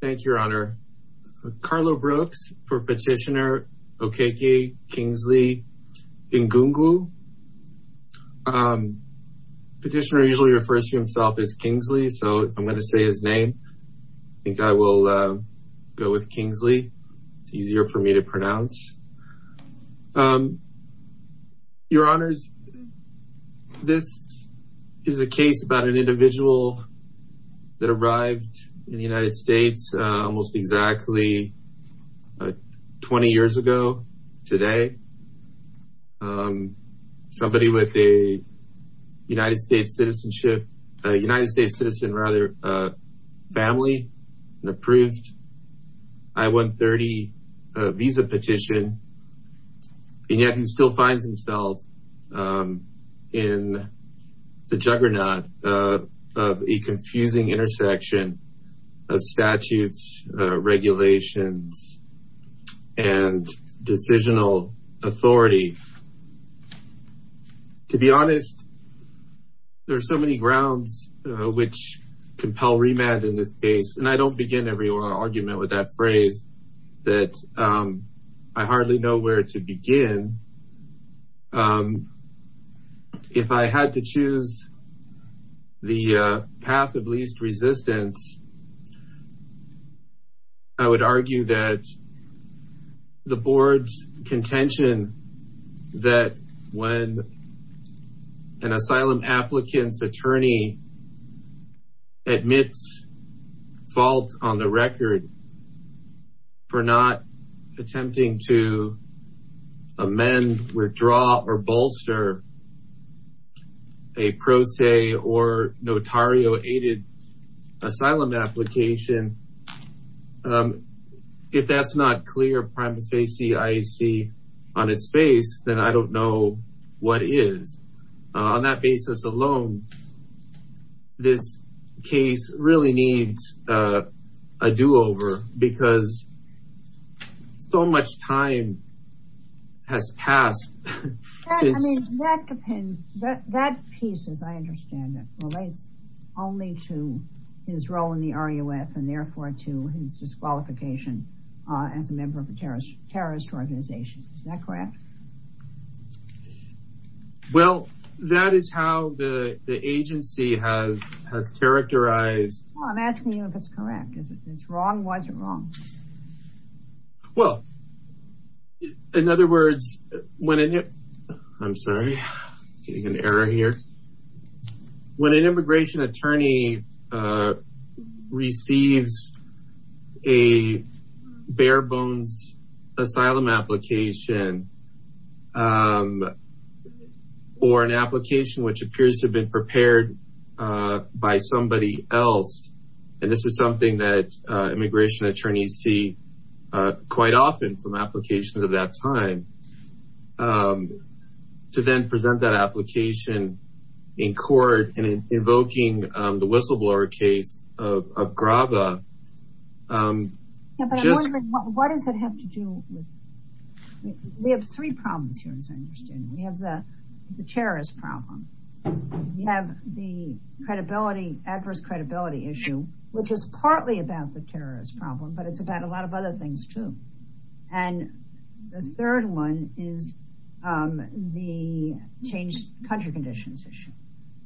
Thank You, Your Honor. Carlo Brooks for Petitioner Okeke Kingsley Egungwu. Petitioner usually refers to himself as Kingsley, so if I'm going to say his name I think I will go with Kingsley. It's easier for me to pronounce. Your Honors, this is a case about an individual that arrived in the United States almost exactly 20 years ago today. Somebody with a United States citizenship, a United States citizen rather, family, approved I-130 visa petition, and yet he still finds himself in the juggernaut of a confusing intersection of statutes, regulations, and decisional authority. To be honest, there are so remanded in this case, and I don't begin every argument with that phrase, that I hardly know where to begin. If I had to choose the path of least resistance, I would argue that the board's contention that when an asylum applicant's attorney admits fault on the record for not attempting to amend, withdraw, or bolster a pro se or notario aided asylum application, if that's not clear prima facie, I see on its face, then I don't know what is. On that basis alone, this case really needs a do-over because so much time has passed. I mean, that piece, as I understand it, relates only to his role in the RUF and their to his disqualification as a member of a terrorist organization. Is that correct? Well, that is how the agency has characterized... Well, I'm asking you if it's correct. If it's wrong, why is it wrong? Well, in other words, when an... I'm sorry, getting an error here. When an immigration attorney receives a bare bones asylum application, or an application which appears to have been prepared by somebody else, and this is something that immigration attorneys see quite often from applications of that time, to then present that application in court and invoking the whistleblower case of Graba... Yeah, but I'm wondering, what does it have to do with... We have three problems here, as I understand it. We have the terrorist problem. We have the credibility, adverse credibility issue, which is partly about the terrorist problem, but it's about a lot of other things too. And the third one is the changed country conditions issue.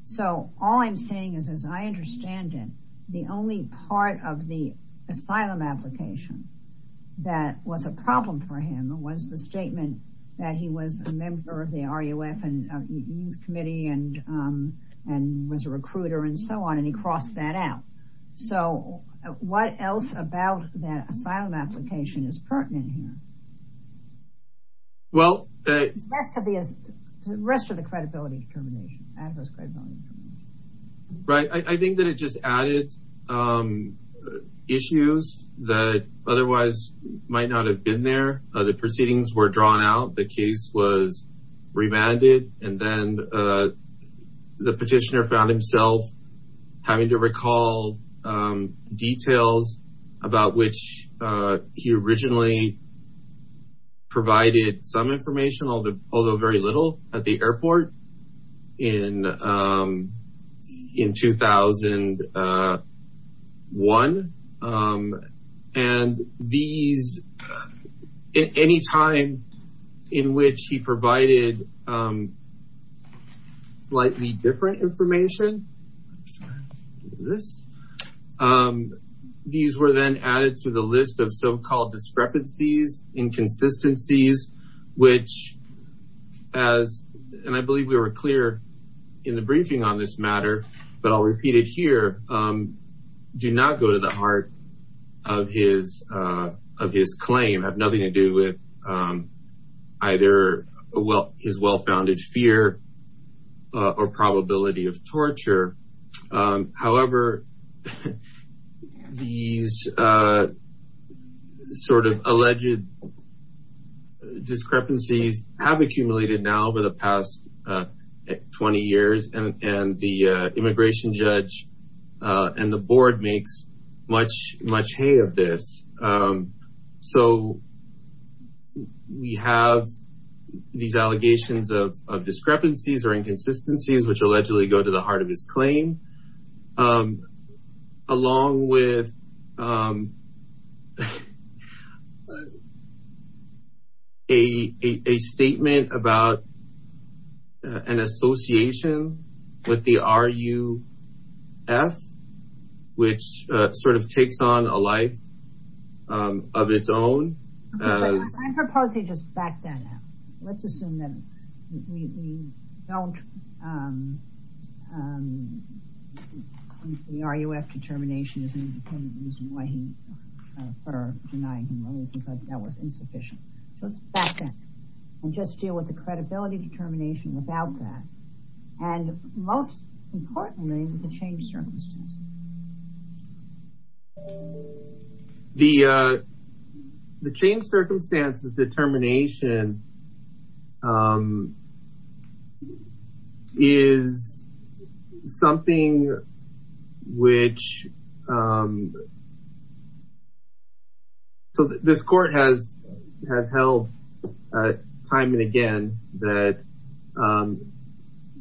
So, all I'm saying is, as I understand it, the only part of the asylum application that was a problem for him was the statement that he was a member of the RUF and youth committee and was a recruiter and so on, he crossed that out. So, what else about that asylum application is pertinent here? Well... The rest of the credibility determination, adverse credibility. Right. I think that it just added issues that otherwise might not have been there. The proceedings were drawn out, the case was remanded, and then the petitioner found himself having to recall details about which he originally provided some information, although very little, at the airport in 2001. And these... At any time in which he provided slightly different information, these were then added to the list of so-called discrepancies, inconsistencies, which as, and I believe we were clear in the briefing on this matter, but I'll repeat it here, do not go to the heart of his claim, have nothing to do with either his well-founded fear or probability of torture. However, these sort of alleged discrepancies have accumulated now over the past 20 years, and the immigration judge and the board makes much hay of this. So, we have these allegations of discrepancies or inconsistencies, which allegedly go to the heart of his claim, along with a statement about an association with the RUF, which sort of takes on a life of its own. I propose he just backs that out. Let's assume that we don't... RUF determination isn't the reason why he, or denying him anything like that was insufficient. So, let's back that and just deal with the credibility determination without that. And most importantly, the change circumstances. The change circumstances determination is something which, so this court has held time and again that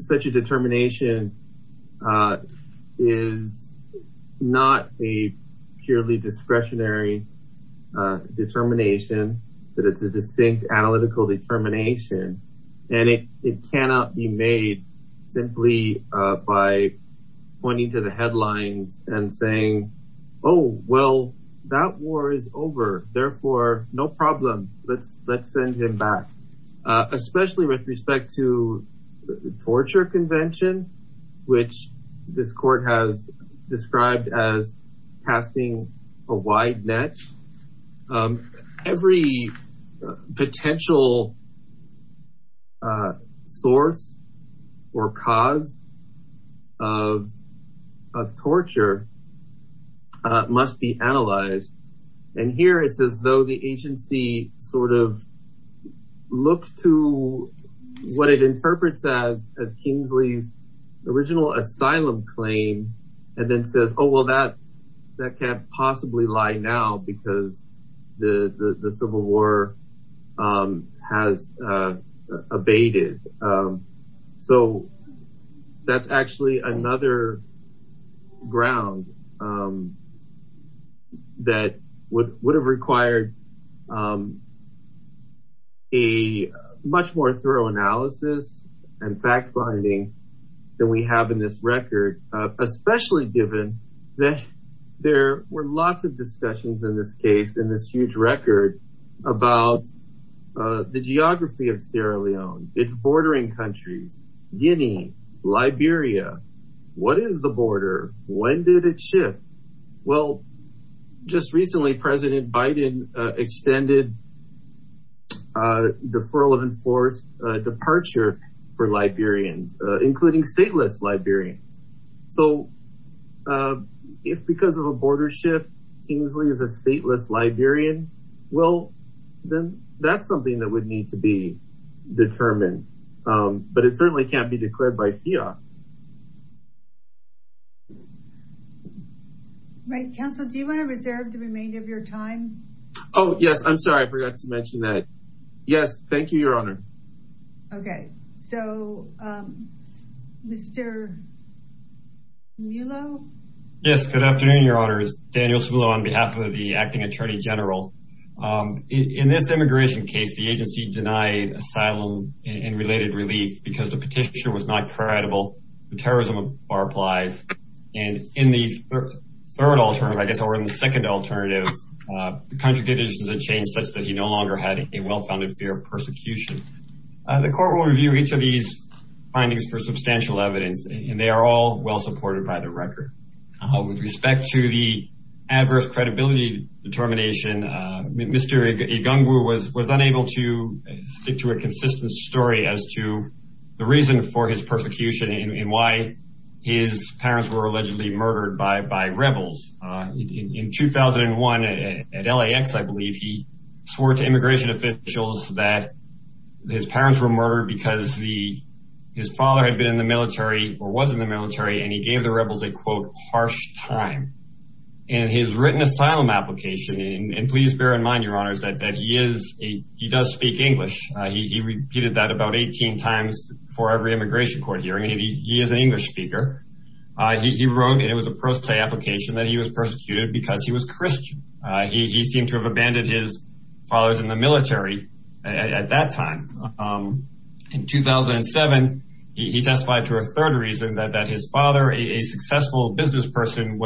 such a determination is not a purely discretionary determination, that it's a distinct analytical determination. And it cannot be made simply by pointing to the headlines and saying, oh, well, that war is over, therefore, no problem, let's send him back. Especially with respect to the torture convention, which this court has described as casting a wide net, every potential source or cause of torture must be analyzed. And here it's as though the agency sort of looks to what it interprets as Kingsley's original asylum claim, and then says, oh, well, that can't possibly lie now because the civil war has abated. So, that's actually another ground that would have required a much more thorough analysis and fact-finding than we have in this record, especially given that there were lots of discussions in this case, in this huge record, about the geography of Sierra Leone, its bordering countries, Guinea, Liberia. What is the border? When did it shift? Well, just recently, President Biden extended a deferral of enforced departure for Liberians, including stateless Liberians. So, if because of a border shift, Kingsley is a stateless Liberian, well, then that's something that would need to be determined. But it certainly can't be declared by fias. Right. Counsel, do you want to reserve the remainder of your time? Oh, yes. I'm sorry. I forgot to mention that. Yes. Thank you, Your Honor. Okay. So, Mr. Smulo? Yes. Good afternoon, Your Honors. Daniel Smulo on behalf of the acting attorney general. In this immigration case, the agency denied asylum and related relief because the petition was not credible. The terrorism bar applies. And in the third alternative, I guess, or in the second alternative, the country conditions had changed such that he no longer had a well-founded fear of persecution. The court will review each of these findings for substantial evidence, and they are all well supported by the record. With respect to the adverse credibility determination, Mr. Igungwu was unable to stick to a consistent story as to the reason for his persecution and why his parents were allegedly murdered by rebels. In 2001, at LAX, I believe, he swore to immigration officials that his parents were murdered because his father had been in the military or was in the military, and he gave the rebels a, quote, harsh time. In his written asylum application, and please bear in mind, Your Honors, that he does speak English. He repeated that about 18 times for every immigration court hearing, and he is an English speaker. He wrote, and it was a pro se application, that he was persecuted because he was Christian. He seemed to have abandoned his fathers in the military at that time. In 2007, he testified to a third reason, that his father, a successful business person,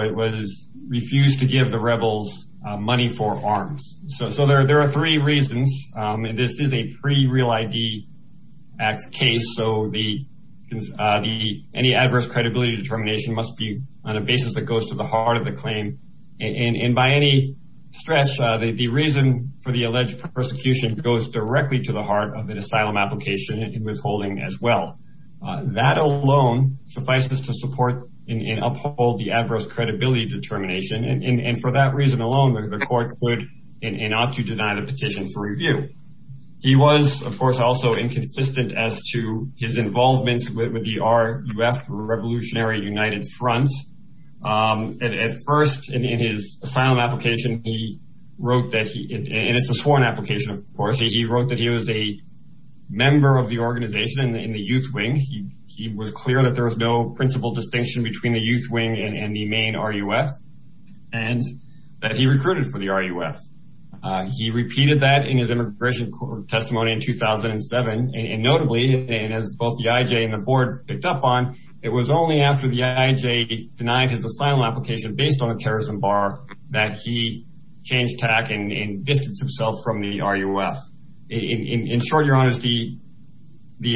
refused to give the rebels money for arms. So there are three reasons. This is a pre-Real ID Act case, so any adverse credibility determination must be on a basis that goes to the heart of the claim, and by any stretch, the reason for the alleged persecution goes directly to the heart of an asylum application and withholding as well. That alone suffices to support and uphold the adverse credibility determination, and for that reason alone, the court could and ought to deny the petition for review. He was, of course, also inconsistent as to his involvement with the RUF, Revolutionary United Front. At first, in his asylum application, he wrote that he, and it's a sworn application, of course, he wrote that he was a member of the organization in the youth wing. He was clear that there was no principal distinction between the for the RUF. He repeated that in his immigration court testimony in 2007, and notably, and as both the IJ and the board picked up on, it was only after the IJ denied his asylum application based on a terrorism bar that he changed tack and distanced himself from the RUF. In short, your honors, the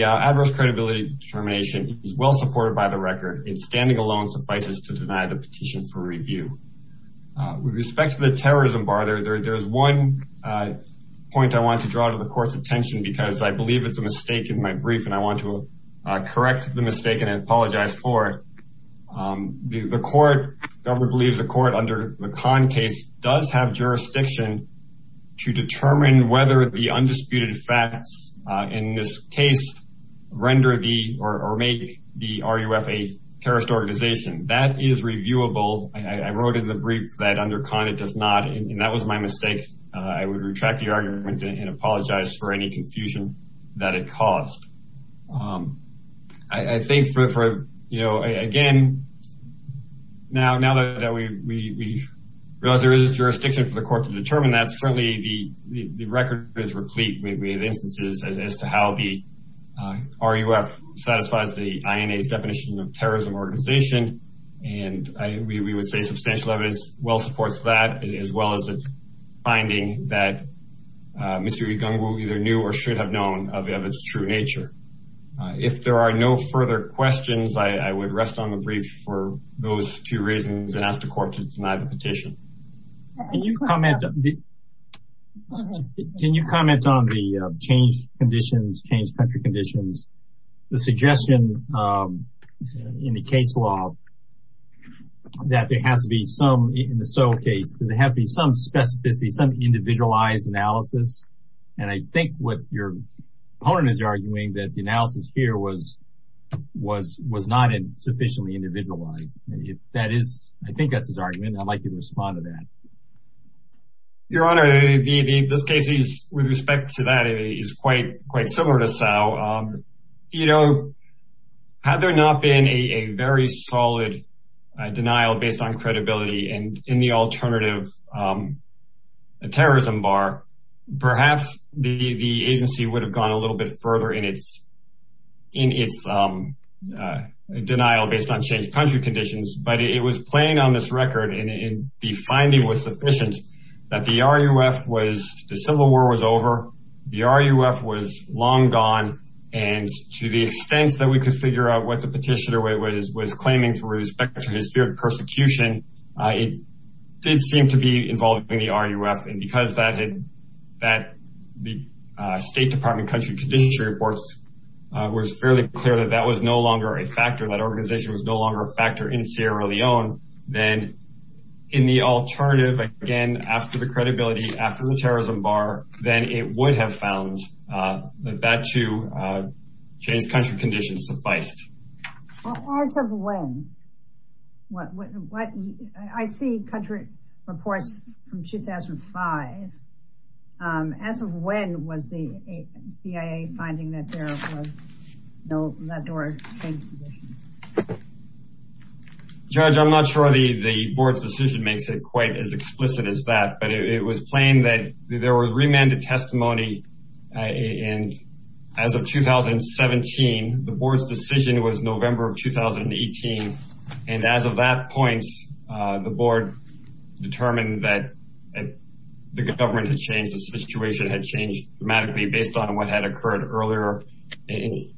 adverse credibility determination is well supported by the record, and standing alone suffices to deny the petition for review. With respect to the terrorism bar, there's one point I want to draw to the court's attention because I believe it's a mistake in my brief, and I want to correct the mistake and apologize for it. The court, the government believes the court under the Kahn case does have jurisdiction to determine whether the undisputed facts in this render the or make the RUF a terrorist organization. That is reviewable. I wrote in the brief that under Kahn it does not, and that was my mistake. I would retract the argument and apologize for any confusion that it caused. I think for, you know, again, now that we realize there is jurisdiction for the court to determine that, certainly the record is replete with instances as to how the RUF satisfies the INA's definition of terrorism organization, and we would say substantial evidence well supports that as well as the finding that Mr. Igungwu either knew or should have known of its true nature. If there are no further questions, I would rest on the brief for those two reasons and ask the court to deny the petition. Can you comment on the change conditions, change country conditions, the suggestion in the case law that there has to be some, in the So case, there has to be some specificity, some individualized analysis, and I think what your opponent is arguing that the analysis here was not sufficiently individualized. I think that's his argument. I'd like you to respond to that. Your Honor, this case with respect to that is quite similar to Sal. You know, had there not been a very solid denial based on credibility and in the alternative a terrorism bar, perhaps the agency would have gone a little bit further in its denial based on change country conditions, but it was playing on this record and the finding was sufficient that the RUF was, the civil war was over. The RUF was long gone and to the extent that we could figure out what the petitioner was claiming for respect to his spirit of persecution, it did seem to be involving the RUF and because that had, that the State Department country conditions reports was fairly clear that that was no longer a factor, that organization was no longer a factor in Sierra Leone, then in the alternative, again, after the credibility, after the terrorism bar, then it would have found that that to change country conditions sufficed. As of when? I see country reports from 2005. As of when was the BIA finding that there was no, that door changed conditions? Judge, I'm not sure the board's decision makes it quite as explicit as that, but it was plain that there was remanded testimony and as of 2017, the board's decision was November of 2018. And as of that point, the board determined that the government had changed. The situation had changed dramatically based on what had occurred earlier in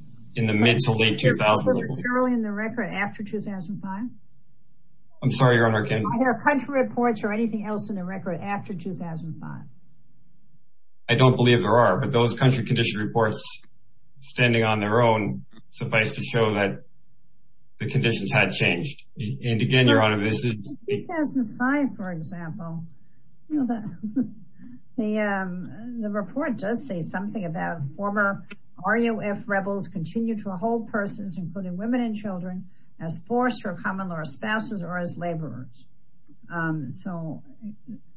the mid to late 2000s. Are there country reports or anything else in the record after 2005? I'm sorry, Your Honor, I can't. Are there country reports or anything else in the record after 2005? I don't believe there are, but those country condition reports standing on their own suffice to show that the conditions had changed. And again, Your Honor, this is... In 2005, for example, the report does say something about former RUF rebels continue to hold persons, including women and children, as forced or common law spouses or as laborers. So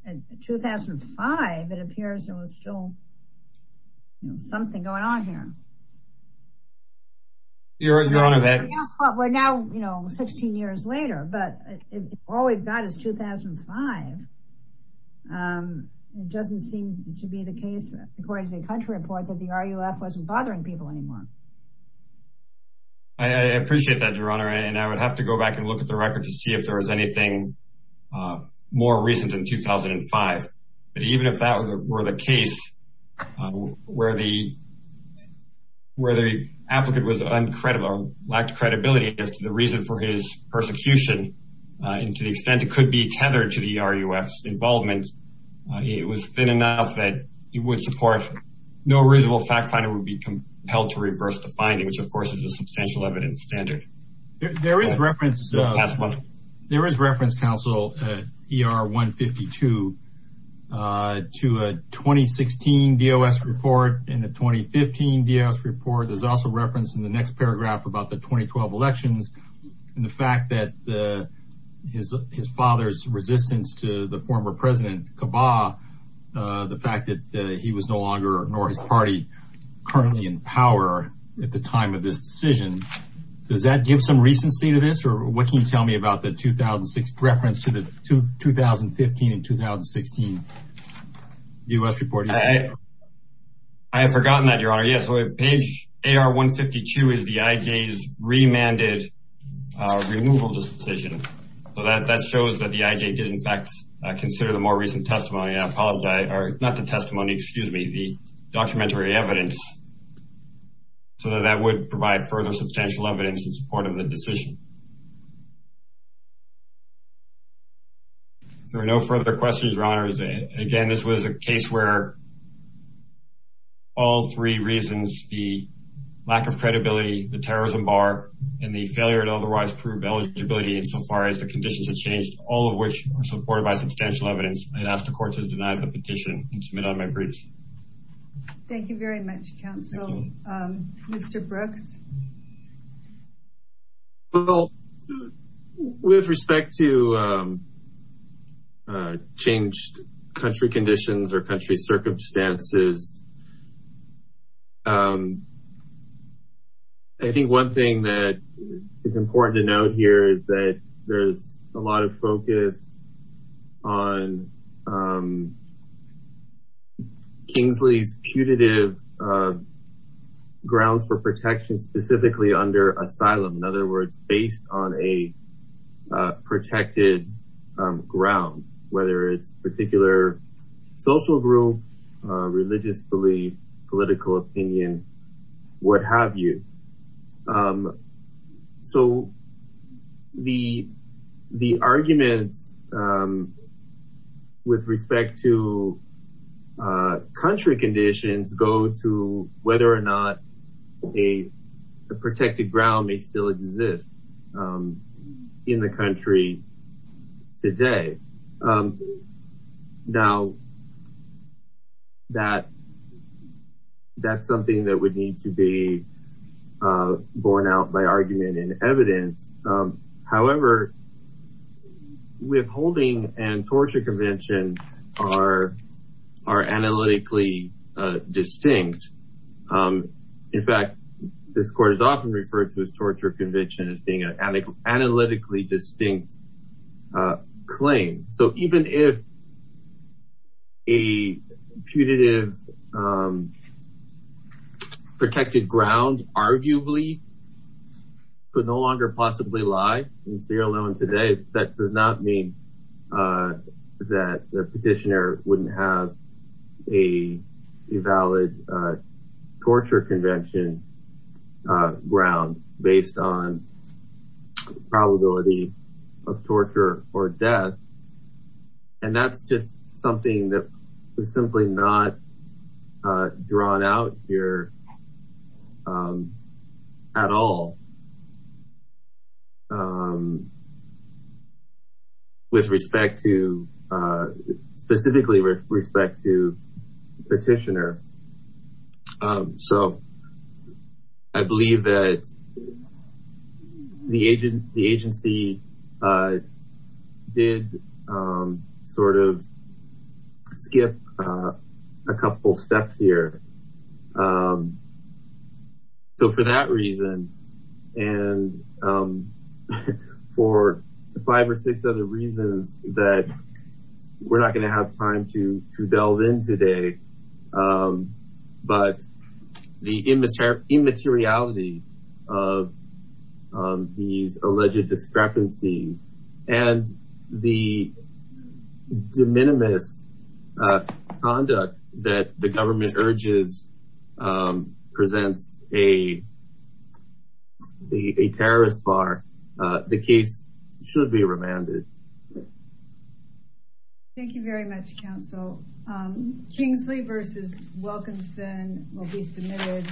in 2005, it appears there was still something going on here. Your Honor, that... We're now, you know, 16 years later, but all we've got is 2005. It doesn't seem to be the case, according to the country report, that the RUF wasn't bothering people anymore. I appreciate that, Your Honor, and I would have to go back and look at the record to see if there was anything more recent than 2005. But even if that were the case, where the applicant was uncredible, lacked credibility as to the reason for his persecution, and to the extent it could be tethered to the RUF's involvement, it was thin enough that it would support... No reasonable fact finder would be compelled to reverse the finding, which, of course, is a substantial evidence standard. There is reference... In the 2015 DOS report, there's also reference in the next paragraph about the 2012 elections and the fact that his father's resistance to the former president, Kabbah, the fact that he was no longer, nor his party, currently in power at the time of this decision. Does that give some recency to this, or what can you tell me about the 2006 reference to the 2015 and 2016 DOS report? I have forgotten that, Your Honor. Yes, page AR-152 is the IJ's remanded removal decision. So that shows that the IJ did, in fact, consider the more recent testimony. I apologize, or not the testimony, excuse me, the documentary evidence, so that that would provide further substantial evidence in support of the decision. If there are no further questions, Your Honor, again, this was a case where all three reasons, the lack of credibility, the terrorism bar, and the failure to otherwise prove eligibility insofar as the conditions had changed, all of which are supported by substantial evidence, I ask the court to deny the petition and submit on my briefs. Thank you very much, counsel. Mr. Brooks? Well, with respect to changed country conditions or country circumstances, I think one thing that is important to note here is that there's a lot of focus on Kingsley's putative grounds for protection, specifically under asylum. In other words, based on a protected ground, whether it's a particular social group, religious belief, political opinion, what have you. So the arguments with respect to country conditions go to whether or not a protected ground may still exist in the country today. Now, that's something that would need to be borne out by argument and evidence. However, withholding and torture convention are analytically distinct. In fact, this court is often referred to as torture convention as being an analytically distinct claim. So even if a putative protected ground arguably could no longer possibly lie in Sierra Leone today, that does not mean that the petitioner wouldn't have a valid torture convention putative ground based on the probability of torture or death. And that's just something that was simply not drawn out here at all with respect to, specifically with respect to the petitioner. So I believe that the agency did sort of skip a couple steps here. So for that reason, and for five or six other reasons that we're not going to have time to delve in today, but the immateriality of these alleged discrepancies and the presence of a terrorist bar, the case should be remanded. Thank you very much, counsel. Kingsley v. Wilkinson will be submitted.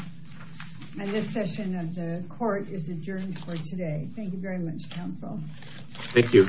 And this session of the court is adjourned for today. Thank you very much, counsel. Thank you.